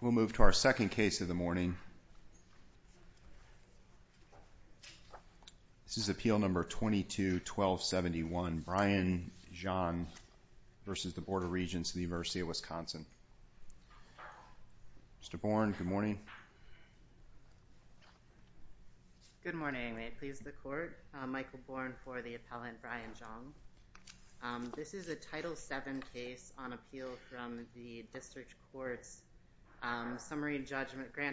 Good morning. May it please the court. Michael Bourne for the Appellant's Appeal. This is a Title VII case on appeal from the District Court's grant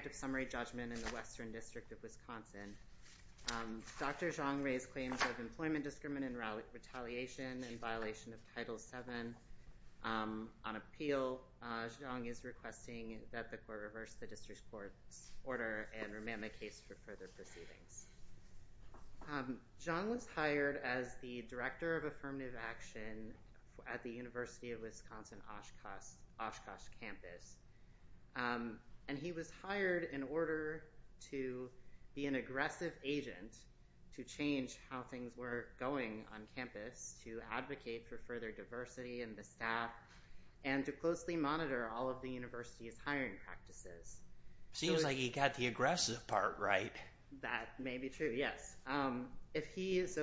of summary judgment in the Western District of Wisconsin. Dr. Xiong raised claims of employment discriminant and retaliation in violation of Title VII on appeal. Xiong is requesting that the court reverse the district court's order and remand the case for further proceedings. Xiong was hired as the Director of Affirmative Action at the University of Wisconsin Oshkosh campus. And he was hired in order to be an aggressive agent to change how things were going on campus, to advocate for further diversity in the staff, and to closely monitor all of the university's hiring practices. Seems like he got the aggressive part right. That may be true, yes. So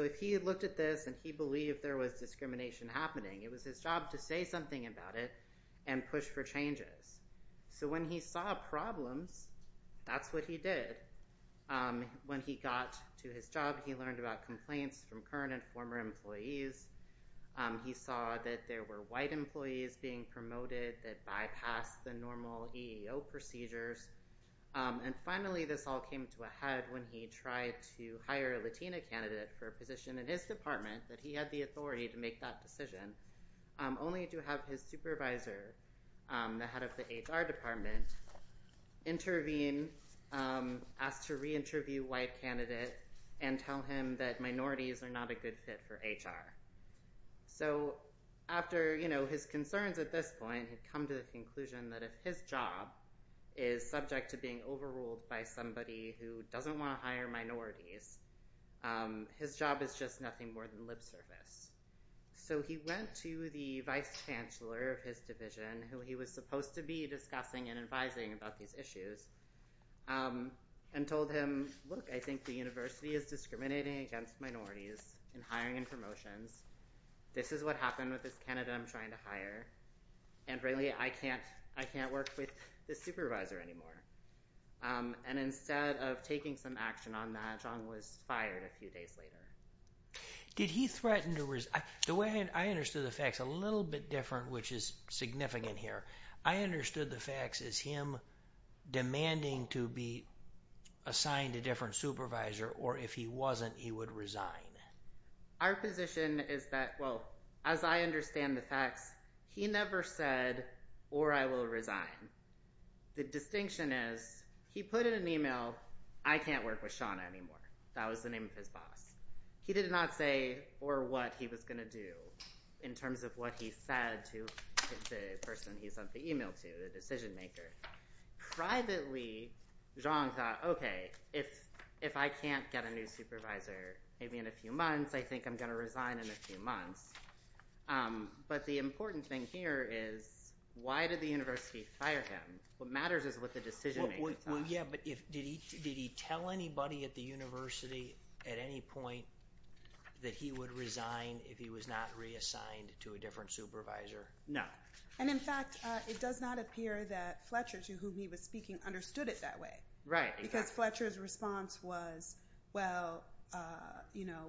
if he had looked at this and he believed there was discrimination happening, it was his job to say something about it and push for changes. So when he saw problems, that's what he did. When he got to his job, he learned about complaints from current and former employees. He saw that there were white employees being promoted that bypassed the normal EEO procedures. And finally, this all came to a head when he tried to hire a Latina candidate for a position in his department, that he had the authority to make that decision, only to have his supervisor, the head of the HR department, intervene, ask to re-interview a white candidate, and tell him that minorities are not a good fit for HR. So after his concerns at this point, he'd come to the conclusion that if his job is subject to being overruled by somebody who doesn't want to hire minorities, his job is just nothing more than lip service. So he went to the vice chancellor of his division, who he was supposed to be discussing and advising about these issues, and told him, look, I think the university is discriminating against minorities in hiring and promotions. This is what happened with this candidate I'm trying to hire, and really, I can't work with this supervisor anymore. And instead of taking some action on that, Zhang was fired a few days later. Did he threaten to resign? The way I understood the facts, a little bit different, which is significant here. I understood the facts as him demanding to be assigned a different supervisor, or if he wasn't, he would resign. Our position is that, well, as I understand the facts, he never said, or I will resign. The distinction is, he put in an email, I can't work with Shauna anymore. That was the name of his boss. He did not say, or what he was going to do, in terms of what he said to the person he sent the email to, the decision maker. Privately, Zhang thought, okay, if I can't get a new supervisor, maybe in a few months, I think I'm going to resign in a few months. But the important thing here is, why did the university fire him? What matters is what the decision maker thought. Yeah, but did he tell anybody at the university at any point that he would resign if he was not reassigned to a different supervisor? No. And in fact, it does not appear that Fletcher, to whom he was speaking, understood it that way. Right, exactly. Because Fletcher's response was, well,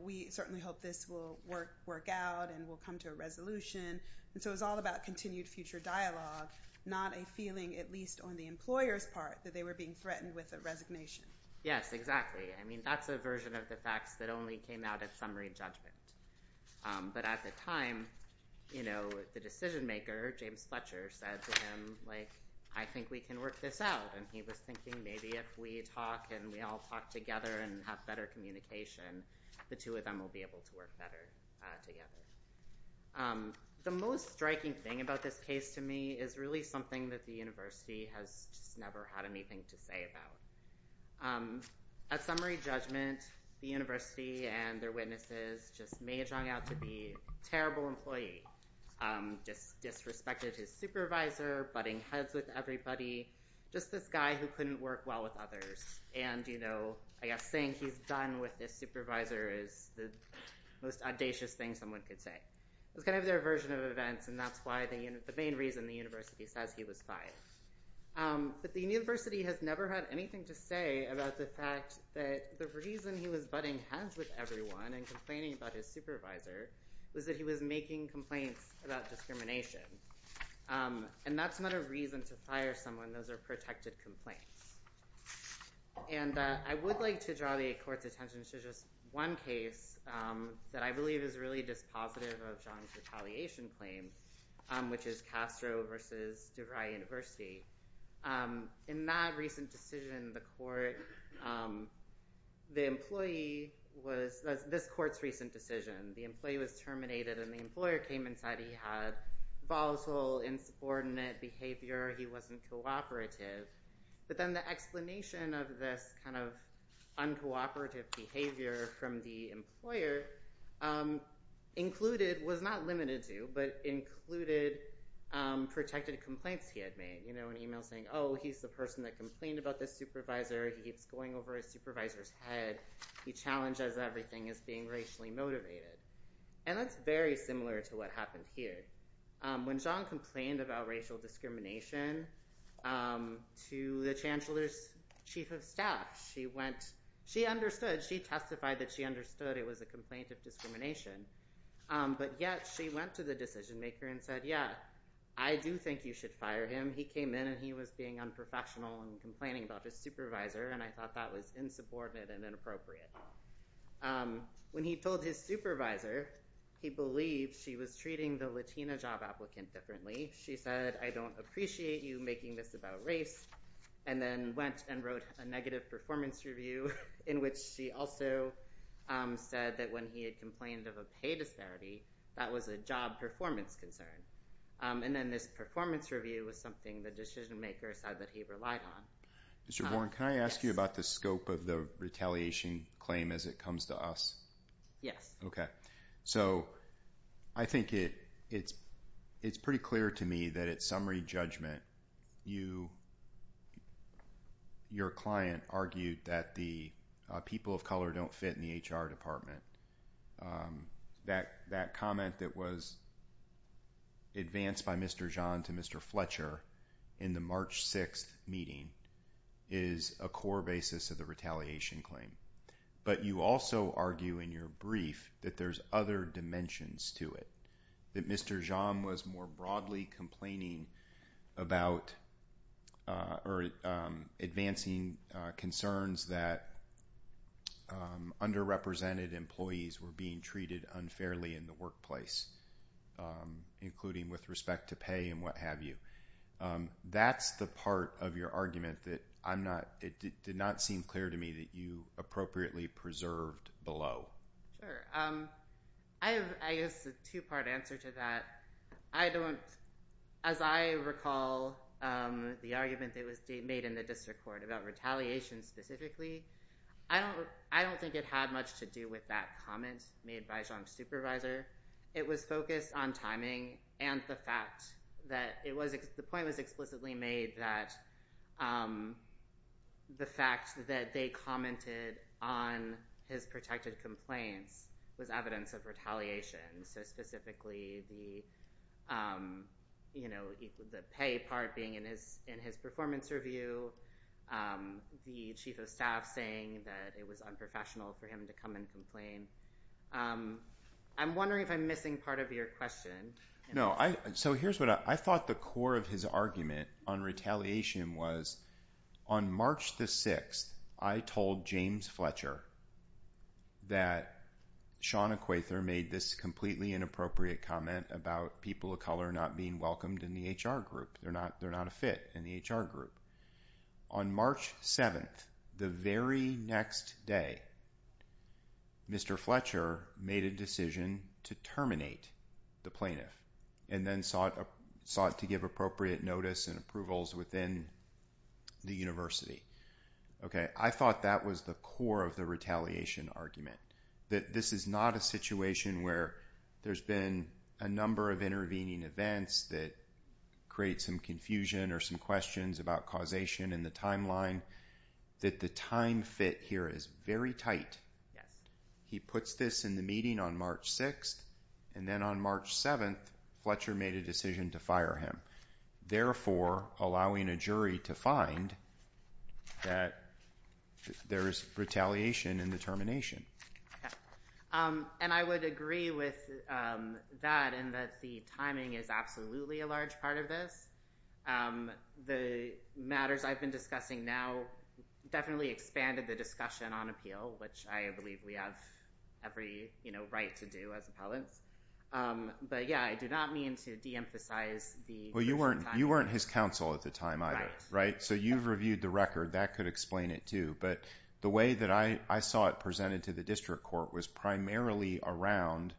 we certainly hope this will work out and we'll come to a resolution. And so it was all about continued future dialogue, not a feeling, at least on the employer's part, that they were being threatened with a resignation. Yes, exactly. I mean, that's a version of the facts that only came out at summary judgment. But at the time, the decision maker, James Fletcher, said to him, I think we can work this out. And he was thinking, maybe if we talk and we all talk together and have better communication, the two of them will be able to work better together. The most striking thing about this case to me is really something that the university has just never had anything to say about. At summary judgment, the university and their witnesses just may have drawn out to be a terrible employee, just disrespected his supervisor, butting heads with everybody, just this guy who couldn't work well with others. And I guess saying he's done with his supervisor is the most audacious thing someone could say. It was kind of their version of events, and that's the main reason the university says he was fired. But the university has never had anything to say about the fact that the reason he was butting heads with everyone and complaining about his supervisor was that he was making complaints about discrimination. And that's not a reason to fire someone. Those are protected complaints. And I would like to draw the court's attention to just one case that I believe is really just positive of John's retaliation claim, which is Castro versus DeVry University. In that recent decision, the court, the employee was, this court's recent decision, the employee was terminated and the employer came and said he had volatile, insubordinate behavior, he wasn't cooperative. But then the explanation of this kind of uncooperative behavior from the employer included, was not limited to, but included protected complaints he had made. An email saying, oh, he's the person that complained about this supervisor, he keeps going over his supervisor's head, he challenges everything as being racially motivated. And that's very similar to what happened here. When John complained about racial discrimination to the chancellor's chief of staff, she went, she understood, she testified that she understood it was a complaint of discrimination. But yet she went to the decision maker and said, yeah, I do think you should fire him. He came in and he was being unprofessional and complaining about his supervisor and I thought that was insubordinate and inappropriate. When he told his supervisor he believed she was treating the Latina job applicant differently, she said, I don't appreciate you making this about race. And then went and wrote a negative performance review in which she also said that when he had complained of a pay disparity, that was a job performance concern. And then this performance review was something the decision maker said that he relied on. Mr. Warren, can I ask you about the scope of the retaliation claim as it comes to us? Yes. Okay. So, I think it's pretty clear to me that at summary judgment, your client argued that the people of color don't fit in the HR department. That comment that was advanced by Mr. Jean to Mr. Fletcher in the March 6th meeting is a core basis of the retaliation claim. But you also argue in your brief that there's other dimensions to it. That Mr. Jean was more broadly complaining about or advancing concerns that underrepresented employees were being treated unfairly in the workplace, including with respect to pay and what have you. That's the part of your argument that I'm not, it did not seem clear to me that you appropriately preserved below. Sure. I have, I guess, a two-part answer to that. I don't, as I recall the argument that was made in the district court about retaliation specifically, I don't think it had much to do with that comment made by Jean's supervisor. It was focused on timing and the fact that it was, the point was explicitly made that the fact that they commented on his protected complaints was evidence of retaliation. So, specifically the, you know, the pay part being in his performance review, the chief of staff saying that it was unprofessional for him to come and complain. I'm wondering if I'm missing part of your question. No, I, so here's what, I thought the core of his argument on retaliation was on March the 6th, I told James Fletcher that Sean Acquaither made this completely inappropriate comment about people of color not being welcomed in the HR group. They're not a fit in the HR group. On March 7th, the very next day, Mr. Fletcher made a decision to terminate the plaintiff and then sought to give appropriate notice and approvals within the university. Okay, I thought that was the core of the retaliation argument, that this is not a situation where there's been a number of intervening events that create some confusion or some questions about causation in the timeline, that the time fit here is very tight. Yes. He puts this in the meeting on March 6th, and then on March 7th, Fletcher made a decision to fire him, therefore allowing a jury to find that there is retaliation in the termination. And I would agree with that in that the timing is absolutely a large part of this. The matters I've been discussing now definitely expanded the discussion on appeal, which I believe we have every, you know, right to do as appellants. But yeah, I do not mean to de-emphasize the… Well, you weren't his counsel at the time either, right? Right. So you've reviewed the record. That could explain it too. But the way that I saw it presented to the district court was primarily around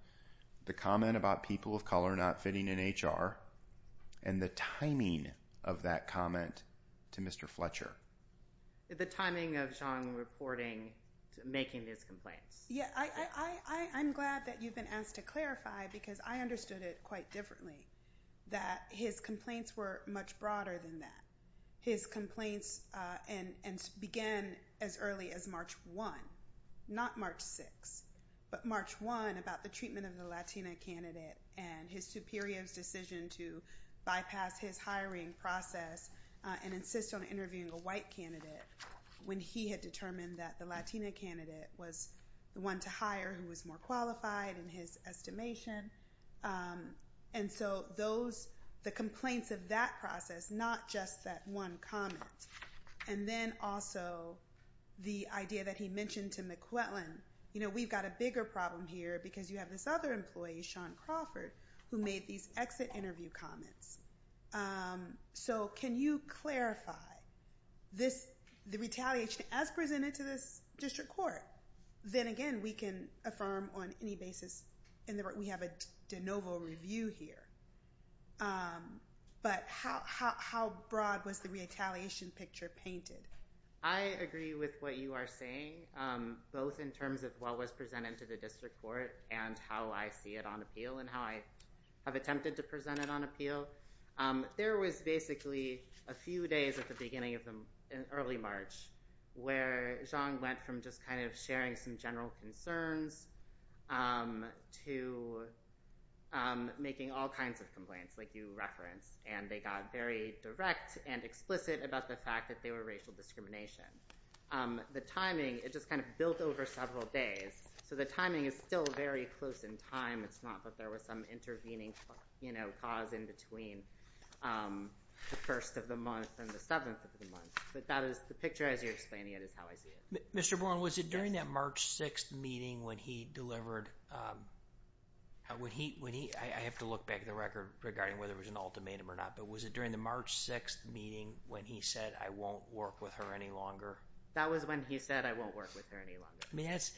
the comment about people of color not fitting in HR and the timing of that comment to Mr. Fletcher. The timing of Zhang reporting, making these complaints. Yeah, I'm glad that you've been asked to clarify because I understood it quite differently, that his complaints were much broader than that. His complaints began as early as March 1, not March 6, but March 1 about the treatment of the Latina candidate and his superior's decision to bypass his hiring process and insist on interviewing a white candidate when he had determined that the Latina candidate was the one to hire who was more qualified in his estimation. And so those, the complaints of that process, not just that one comment. And then also the idea that he mentioned to McClellan, you know, we've got a bigger problem here because you have this other employee, Sean Crawford, who made these exit interview comments. So can you clarify the retaliation as presented to this district court? Then again, we can affirm on any basis. We have a de novo review here. But how broad was the retaliation picture painted? I agree with what you are saying, both in terms of what was presented to the district court and how I see it on appeal and how I have attempted to present it on appeal. There was basically a few days at the beginning of the early March where Zhang went from just kind of sharing some general concerns to making all kinds of complaints like you referenced. And they got very direct and explicit about the fact that they were racial discrimination. The timing, it just kind of built over several days. So the timing is still very close in time. It's not that there was some intervening, you know, cause in between the first of the month and the seventh of the month. But that is the picture as you're explaining it is how I see it. Mr. Bourne, was it during that March 6th meeting when he delivered, I have to look back at the record regarding whether it was an ultimatum or not, but was it during the March 6th meeting when he said, I won't work with her any longer? That was when he said, I won't work with her any longer. I mean, that's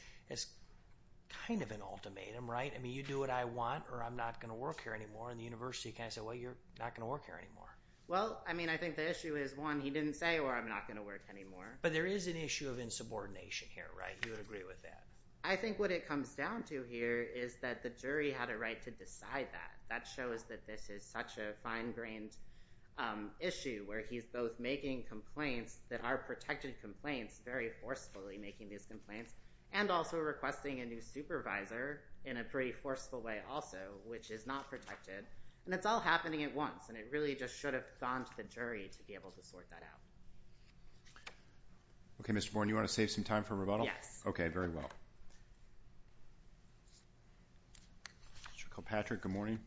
kind of an ultimatum, right? I mean, you do what I want or I'm not going to work here anymore. And the university kind of said, well, you're not going to work here anymore. Well, I mean, I think the issue is one, he didn't say or I'm not going to work anymore. But there is an issue of insubordination here, right? You would agree with that. I think what it comes down to here is that the jury had a right to decide that. That shows that this is such a fine-grained issue where he's both making complaints that are protected complaints, very forcefully making these complaints, and also requesting a new supervisor in a pretty forceful way also, which is not protected. And it's all happening at once. And it really just should have gone to the jury to be able to sort that out. Okay, Mr. Bourne, you want to save some time for rebuttal? Yes. Okay, very well. Mr. Kilpatrick, good morning.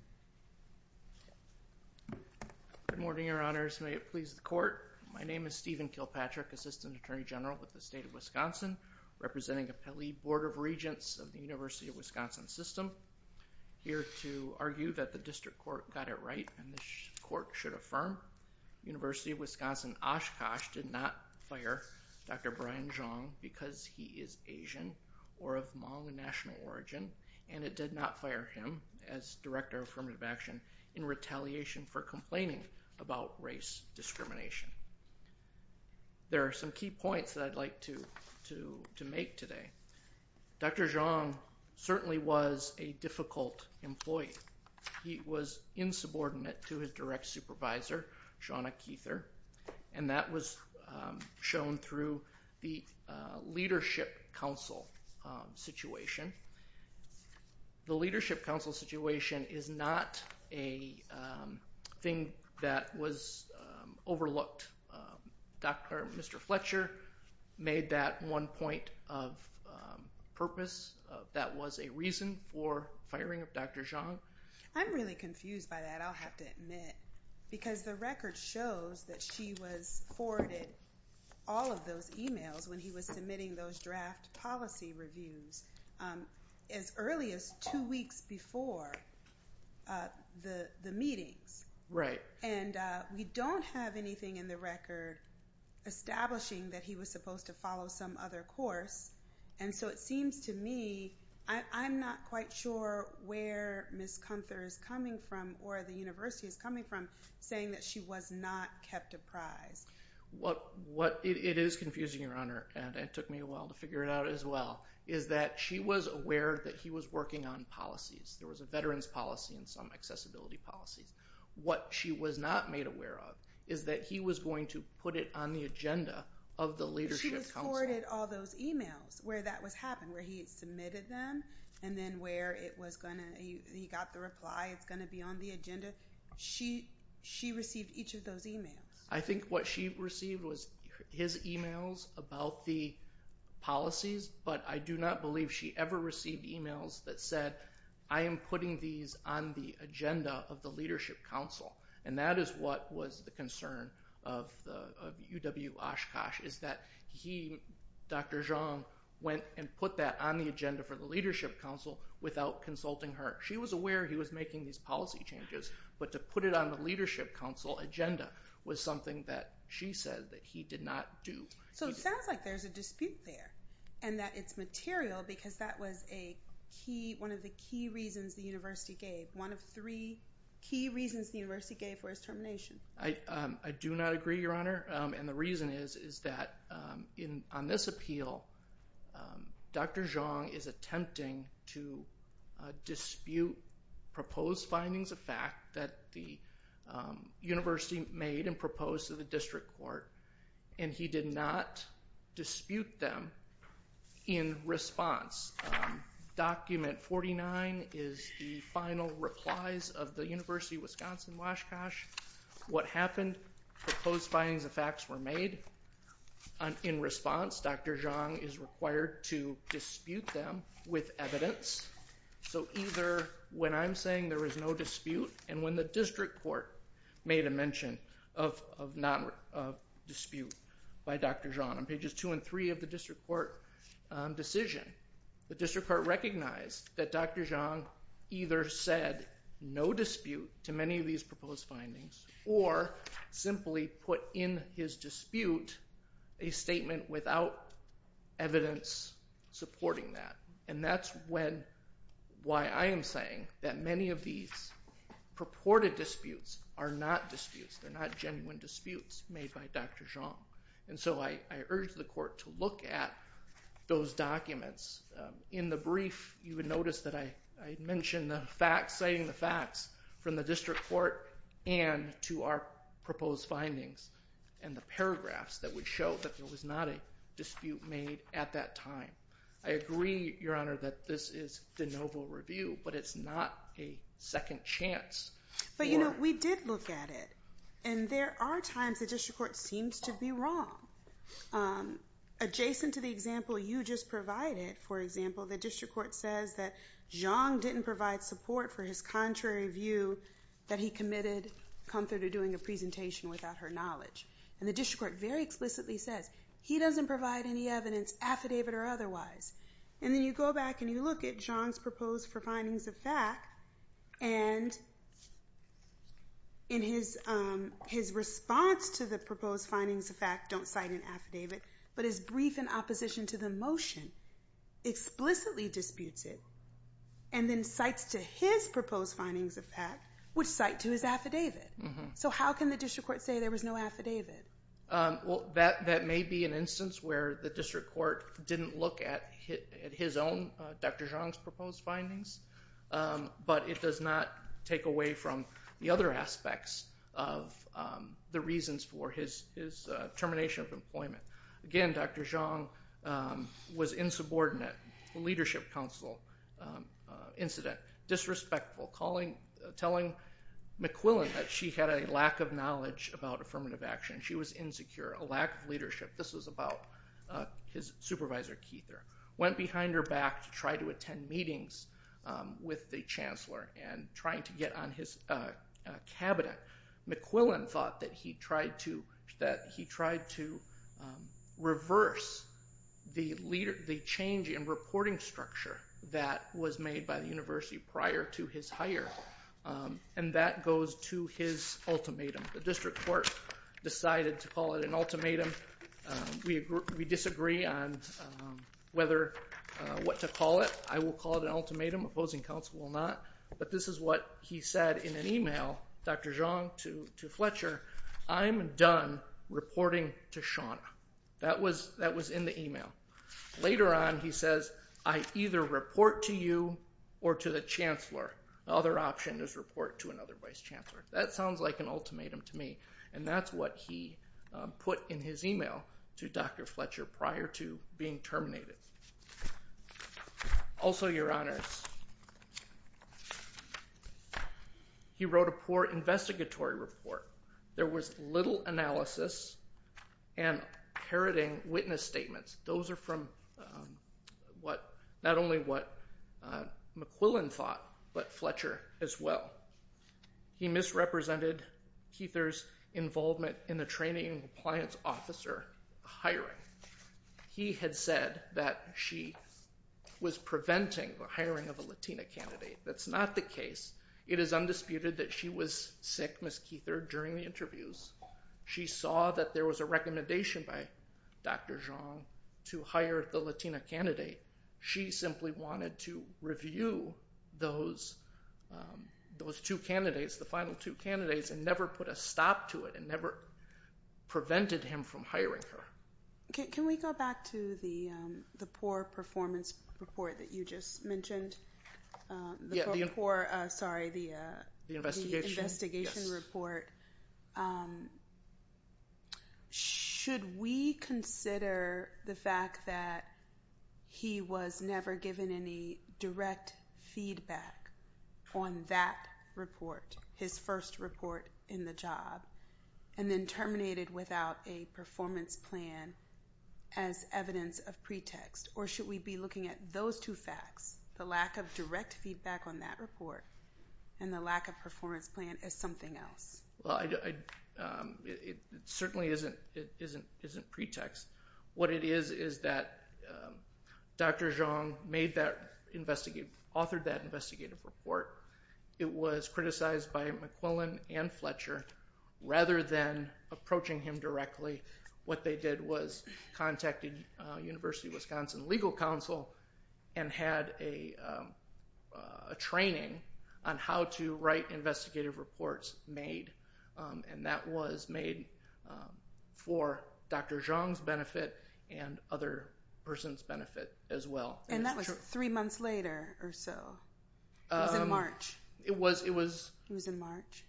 Good morning, Your Honors. May it please the Court. My name is Stephen Kilpatrick, Assistant Attorney General with the State of Wisconsin, representing Appellee Board of Regents of the University of Wisconsin System. I'm here to argue that the district court got it right, and this court should affirm University of Wisconsin Oshkosh did not fire Dr. Brian Zhang because he is Asian or of Hmong national origin, and it did not fire him as Director of Affirmative Action in retaliation for complaining about race discrimination. There are some key points that I'd like to make today. Dr. Zhang certainly was a difficult employee. He was insubordinate to his direct supervisor, Shawna Kether, and that was shown through the Leadership Council situation. The Leadership Council situation is not a thing that was overlooked. Mr. Fletcher made that one point of purpose. That was a reason for firing of Dr. Zhang. I'm really confused by that, I'll have to admit, because the record shows that she was forwarded all of those emails when he was submitting those draft policy reviews as early as two weeks before the meetings. We don't have anything in the record establishing that he was supposed to follow some other course, and so it seems to me, I'm not quite sure where Ms. Comfort is coming from, or the university is coming from, saying that she was not kept apprised. It is confusing, Your Honor, and it took me a while to figure it out as well, is that she was aware that he was working on policies. There was a veterans policy and some accessibility policies. What she was not made aware of is that he was going to put it on the agenda of the Leadership Council. She was forwarded all those emails where that was happening, where he submitted them, and then where he got the reply, it's going to be on the agenda. She received each of those emails. What she received was his emails about the policies, but I do not believe she ever received emails that said, I am putting these on the agenda of the Leadership Council. That is what was the concern of UW Oshkosh, is that he, Dr. Zhang, went and put that on the agenda for the Leadership Council without consulting her. She was aware he was making these policy changes, but to put it on the Leadership Council agenda was something that she said that he did not do. So it sounds like there's a dispute there, and that it's material because that was a key, one of the key reasons the university gave, one of three key reasons the university gave for his termination. I do not agree, Your Honor, and the reason is that on this appeal, Dr. Zhang is attempting to dispute proposed findings of fact that the university made and proposed to the district court, and he did not dispute them in response. Document 49 is the final replies of the University of Wisconsin-Oshkosh. What happened? Proposed findings of facts were made. In response, Dr. Zhang is required to dispute them with evidence. So either when I'm saying there is no dispute, and when the district court made a mention of dispute by Dr. Zhang on pages two and three of the district court decision, the district court recognized that Dr. Zhang either said no dispute to many of these proposed findings, or simply put in his dispute a statement without evidence supporting that. And that's why I am saying that many of these purported disputes are not disputes. They're not genuine disputes made by Dr. Zhang. And so I urge the court to look at those documents. In the brief, you would notice that I mentioned the facts, citing the facts from the district court and to our proposed findings and the paragraphs that would show that there was not a dispute made at that time. I agree, Your Honor, that this is de novo review, but it's not a second chance. But, you know, we did look at it, and there are times the district court seems to be wrong. Adjacent to the example you just provided, for example, the district court says that Zhang didn't provide support for his contrary view that he committed Comforter doing a presentation without her knowledge. And the district court very explicitly says he doesn't provide any evidence, affidavit or otherwise. And then you go back and you look at Zhang's proposed for findings of fact, and in his response to the proposed findings of fact, don't cite an affidavit, but his brief in opposition to the motion, explicitly disputes it, and then cites to his proposed findings of fact, which cite to his affidavit. So how can the district court say there was no affidavit? Well, that may be an instance where the district court didn't look at his own, Dr. Zhang's proposed findings, but it does not take away from the other aspects of the reasons for his termination of employment. Again, Dr. Zhang was insubordinate, leadership council incident, disrespectful, telling McQuillan that she had a lack of knowledge about affirmative action. She was insecure, a lack of leadership. This was about his supervisor, Kether. Went behind her back to try to attend meetings with the chancellor and trying to get on his cabinet. McQuillan thought that he tried to reverse the change in reporting structure that was made by the university prior to his hire. And that goes to his ultimatum. The district court decided to call it an ultimatum. We disagree on what to call it. I will call it an ultimatum. Opposing counsel will not. But this is what he said in an email, Dr. Zhang to Fletcher. I'm done reporting to Shawna. That was in the email. Later on, he says, I either report to you or to the chancellor. The other option is report to another vice chancellor. That sounds like an ultimatum to me. And that's what he put in his email to Dr. Fletcher prior to being terminated. Also, your honors, he wrote a poor investigatory report. There was little analysis and parroting witness statements. Those are from not only what McQuillan thought, but Fletcher as well. He misrepresented Kether's involvement in the training and compliance officer hiring. He had said that she was preventing the hiring of a Latina candidate. That's not the case. It is undisputed that she was sick, Ms. Kether, during the interviews. She saw that there was a recommendation by Dr. Zhang to hire the Latina candidate. She simply wanted to review those two candidates, the final two candidates, and never put a stop to it and never prevented him from hiring her. Can we go back to the poor performance report that you just mentioned? The poor, sorry, the investigation report. Should we consider the fact that he was never given any direct feedback on that report, his first report in the job, and then terminated without a performance plan as evidence of pretext? Or should we be looking at those two facts, the lack of direct feedback on that report and the lack of performance plan, as something else? It certainly isn't pretext. What it is is that Dr. Zhang authored that investigative report. It was criticized by McQuillan and Fletcher. Rather than approaching him directly, what they did was contacted University of Wisconsin Legal Counsel and had a training on how to write investigative reports made, and that was made for Dr. Zhang's benefit and other persons' benefit as well. And that was three months later or so. It was in March. It was in March.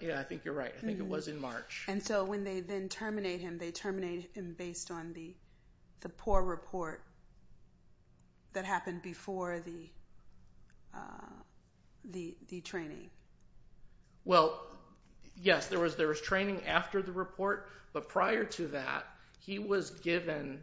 Yeah, I think you're right. I think it was in March. And so when they then terminate him, they terminate him based on the poor report that happened before the training. Well, yes, there was training after the report, but prior to that, he was given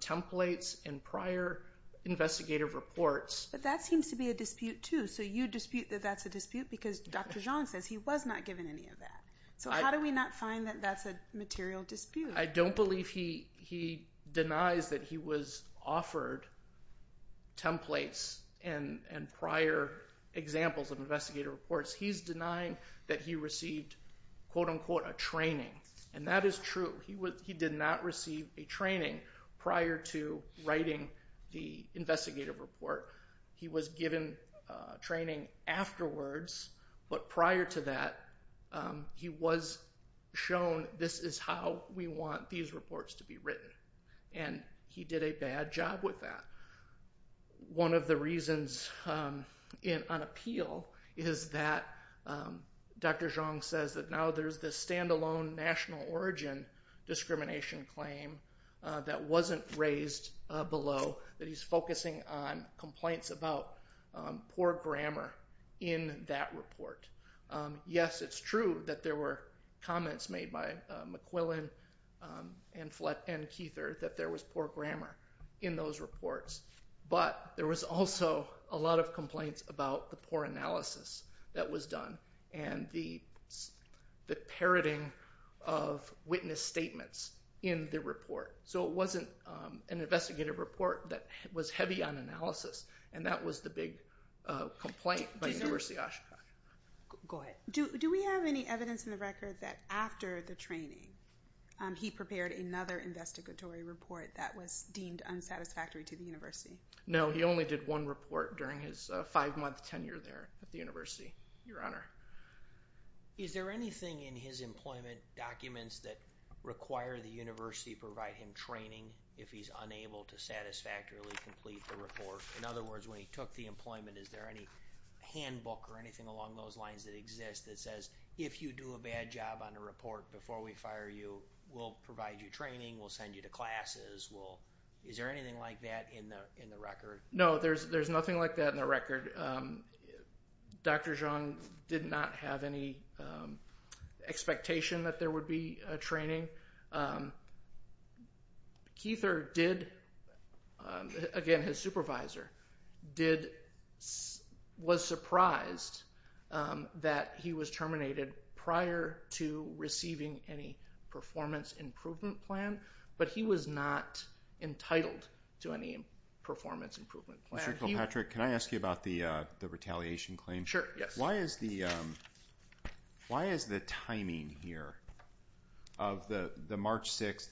templates and prior investigative reports. But that seems to be a dispute, too. So you dispute that that's a dispute because Dr. Zhang says he was not given any of that. So how do we not find that that's a material dispute? I don't believe he denies that he was offered templates and prior examples of investigative reports. He's denying that he received, quote-unquote, a training. And that is true. He did not receive a training prior to writing the investigative report. He was given training afterwards, but prior to that, he was shown this is how we want these reports to be written. And he did a bad job with that. One of the reasons on appeal is that Dr. Zhang says that now there's this stand-alone national origin discrimination claim that wasn't raised below that he's focusing on complaints about poor grammar in that report. Yes, it's true that there were comments made by McQuillan and Kether that there was poor grammar in those reports. But there was also a lot of complaints about the poor analysis that was done and the parroting of witness statements in the report. So it wasn't an investigative report that was heavy on analysis. And that was the big complaint by Nurasi Ashokan. Go ahead. Do we have any evidence in the record that after the training he prepared another investigatory report that was deemed unsatisfactory to the university? No, he only did one report during his five-month tenure there at the university, Your Honor. Is there anything in his employment documents that require the university to provide him training if he's unable to satisfactorily complete the report? In other words, when he took the employment, is there any handbook or anything along those lines that exists that says, if you do a bad job on a report before we fire you, we'll provide you training, we'll send you to classes. Is there anything like that in the record? No, there's nothing like that in the record. Dr. Zhang did not have any expectation that there would be a training. Kether did, again his supervisor, was surprised that he was terminated prior to receiving any performance improvement plan, but he was not entitled to any performance improvement plan. Mr. Kilpatrick, can I ask you about the retaliation claim? Sure, yes. Why is the timing here of the March 6th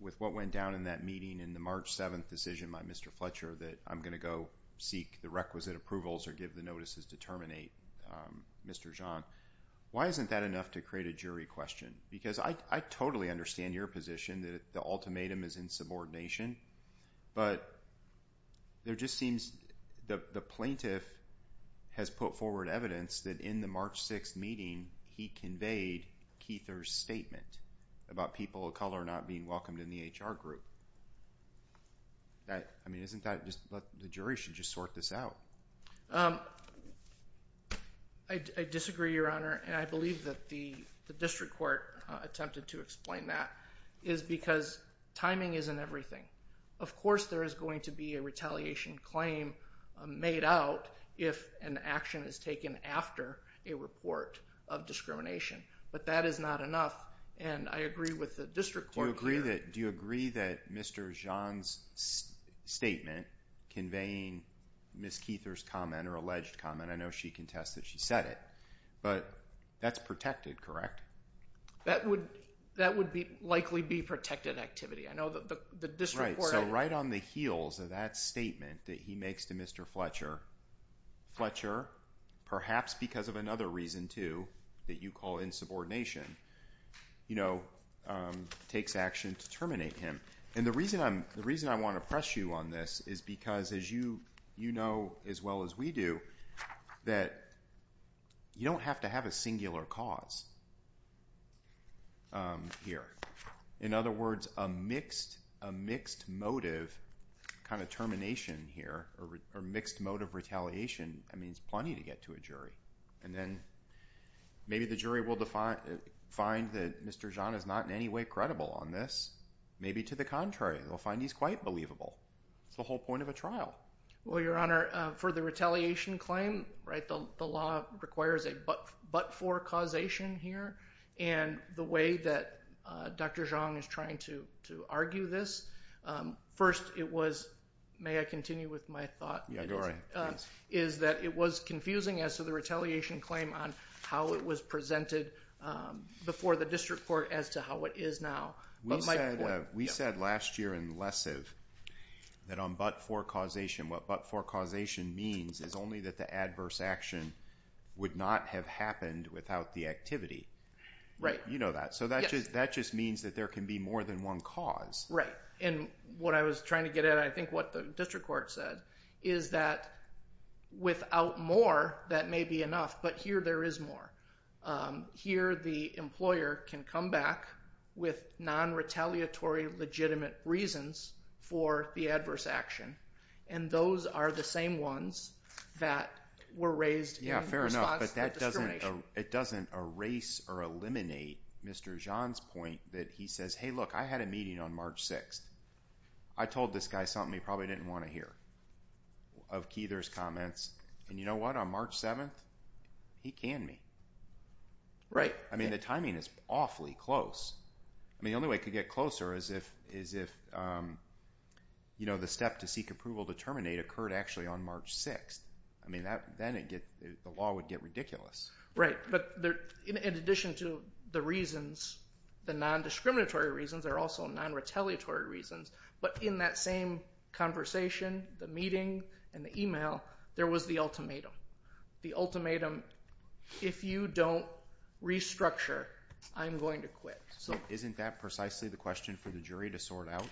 with what went down in that meeting and the March 7th decision by Mr. Fletcher that I'm going to go seek the requisite approvals or give the notices to terminate Mr. Zhang, why isn't that enough to create a jury question? Because I totally understand your position that the ultimatum is in subordination, but there just seems, the plaintiff has put forward evidence that in the March 6th meeting he conveyed Kether's statement about people of color not being welcomed in the HR group. I mean, isn't that just, the jury should just sort this out. I disagree, Your Honor, and I believe that the district court attempted to explain that, is because timing isn't everything. Of course there is going to be a retaliation claim made out if an action is taken after a report of discrimination, but that is not enough, and I agree with the district court here. Do you agree that Mr. Zhang's statement conveying Ms. Kether's comment or alleged comment, I know she contested, she said it, but that's protected, correct? That would likely be protected activity. I know the district court... Right, so right on the heels of that statement that he makes to Mr. Fletcher, Fletcher, perhaps because of another reason too, that you call insubordination, you know, takes action to terminate him. And the reason I want to press you on this is because as you know as well as we do, that you don't have to have a singular cause. Here, in other words, a mixed motive kind of termination here, or mixed motive retaliation means plenty to get to a jury. And then maybe the jury will find that Mr. Zhang is not in any way credible on this. Maybe to the contrary, they'll find he's quite believable. It's the whole point of a trial. Well, Your Honor, for the retaliation claim, right, the law requires a but-for causation here. And the way that Dr. Zhang is trying to argue this, first it was, may I continue with my thought, is that it was confusing as to the retaliation claim on how it was presented before the district court as to how it is now. We said last year in lessive that on but-for causation, what but-for causation means is only that the adverse action would not have happened without the activity. Right. You know that. So that just means that there can be more than one cause. Right. And what I was trying to get at, I think what the district court said, is that without more, that may be enough. But here, there is more. Here, the employer can come back with non-retaliatory, legitimate reasons for the adverse action. And those are the same ones that were raised in response to discrimination. It doesn't erase or eliminate Mr. Zhang's point that he says, hey, look, I had a meeting on March 6th. I told this guy something he probably didn't want to hear. Of Keither's comments. And you know what? On March 7th, he canned me. Right. I mean, the timing is awfully close. I mean, the only way it could get closer is if, you know, the step to seek approval to terminate occurred actually on March 6th. I mean, then the law would get ridiculous. Right. But in addition to the reasons, the non-discriminatory reasons are also non-retaliatory reasons. But in that same conversation, the meeting, and the email, there was the ultimatum. The ultimatum, if you don't restructure, I'm going to quit. So isn't that precisely the question for the jury to sort out?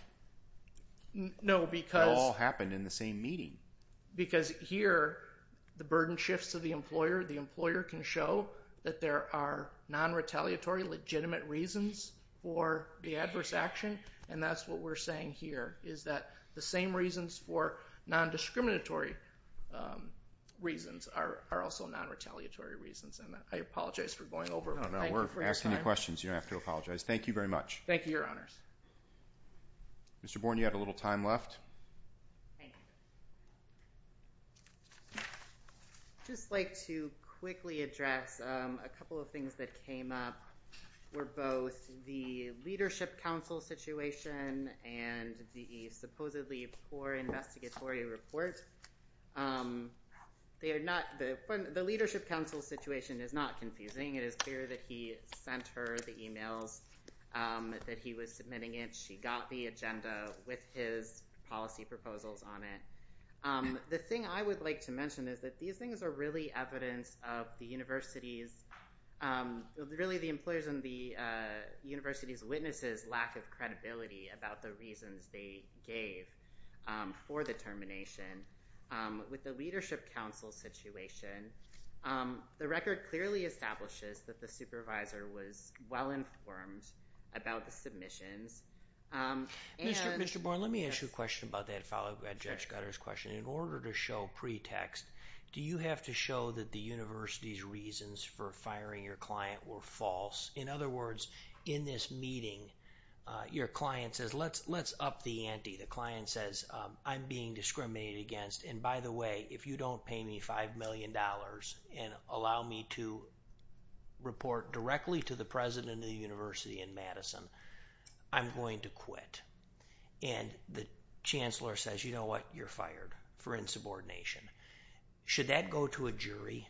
No, because... Because here, the burden shifts to the employer. The employer can show that there are non-retaliatory, legitimate reasons for the adverse action. And that's what we're saying here, is that the same reasons for non-discriminatory reasons are also non-retaliatory reasons. And I apologize for going over. No, no, we're asking you questions. You don't have to apologize. Thank you very much. Thank you, Your Honors. Mr. Bourne, you had a little time left. Thank you. I'd just like to quickly address a couple of things that came up, were both the Leadership Council situation and the supposedly poor investigatory report. The Leadership Council situation is not confusing. It is clear that he sent her the emails that he was submitting it. She got the agenda with his policy proposals on it. The thing I would like to mention is that these things are really evidence of the university's... Really, the employers and the university's witnesses' lack of credibility about the reasons they gave for the termination. With the Leadership Council situation, the record clearly establishes that the supervisor was well-informed about the submissions. Mr. Bourne, let me ask you a question about that follow-up to Judge Gutter's question. In order to show pretext, do you have to show that the university's reasons for firing your client were false? In other words, in this meeting, your client says, let's up the ante. The client says, I'm being discriminated against. By the way, if you don't pay me $5 million and allow me to report directly to the president of the university in Madison, I'm going to quit. The chancellor says, you know what? You're fired for insubordination. Should that go to a jury?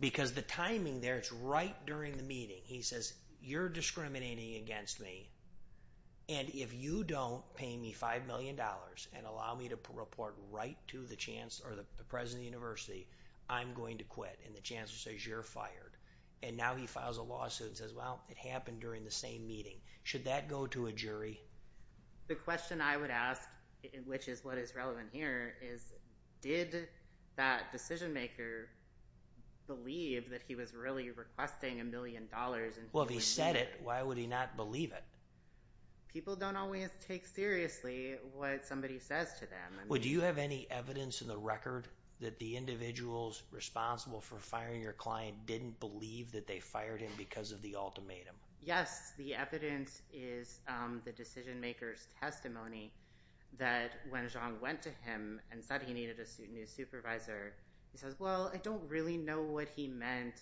Because the timing there, it's right during the meeting. He says, you're discriminating against me. If you don't pay me $5 million and allow me to report right to the president of the university, I'm going to quit. The chancellor says, you're fired. well, it happened during the same meeting. Should that go to a jury? The question I would ask, which is what is relevant here, is did that decision maker believe that he was really requesting a million dollars? Well, if he said it, why would he not believe it? People don't always take seriously what somebody says to them. Do you have any evidence in the record that the individuals responsible for firing your client didn't believe that they fired him because of the ultimatum? Yes, the evidence is in the chancellor's testimony that when Zhang went to him and said he needed a new supervisor, he says, well, I don't really know what he meant.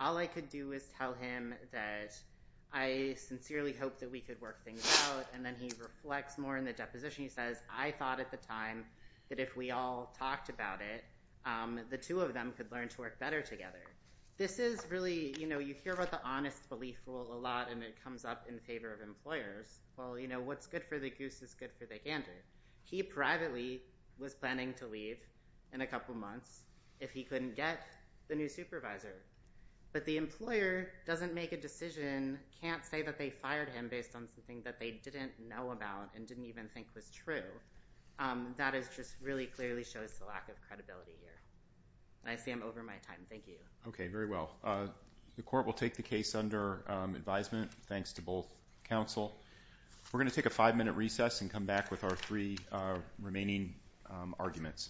All I could do is tell him that I sincerely hope that we could work things out. And then he reflects more in the deposition. He says, I thought at the time that if we all talked about it, the two of them could learn to work better together. You hear about the honest belief rule a lot and it comes up in favor of employers. It's good for the goose. It's good for the gander. He privately was planning to leave in a couple months if he couldn't get the new supervisor. But the employer doesn't make a decision, can't say that they fired him based on something that they didn't know about and didn't even think was true. That just really clearly shows the lack of credibility here. I see I'm over my time. Thank you. Okay, very well. The court will take the case under advisement. Thanks to both counsel. We're going to take a five-minute recess and come back with our three remaining arguments.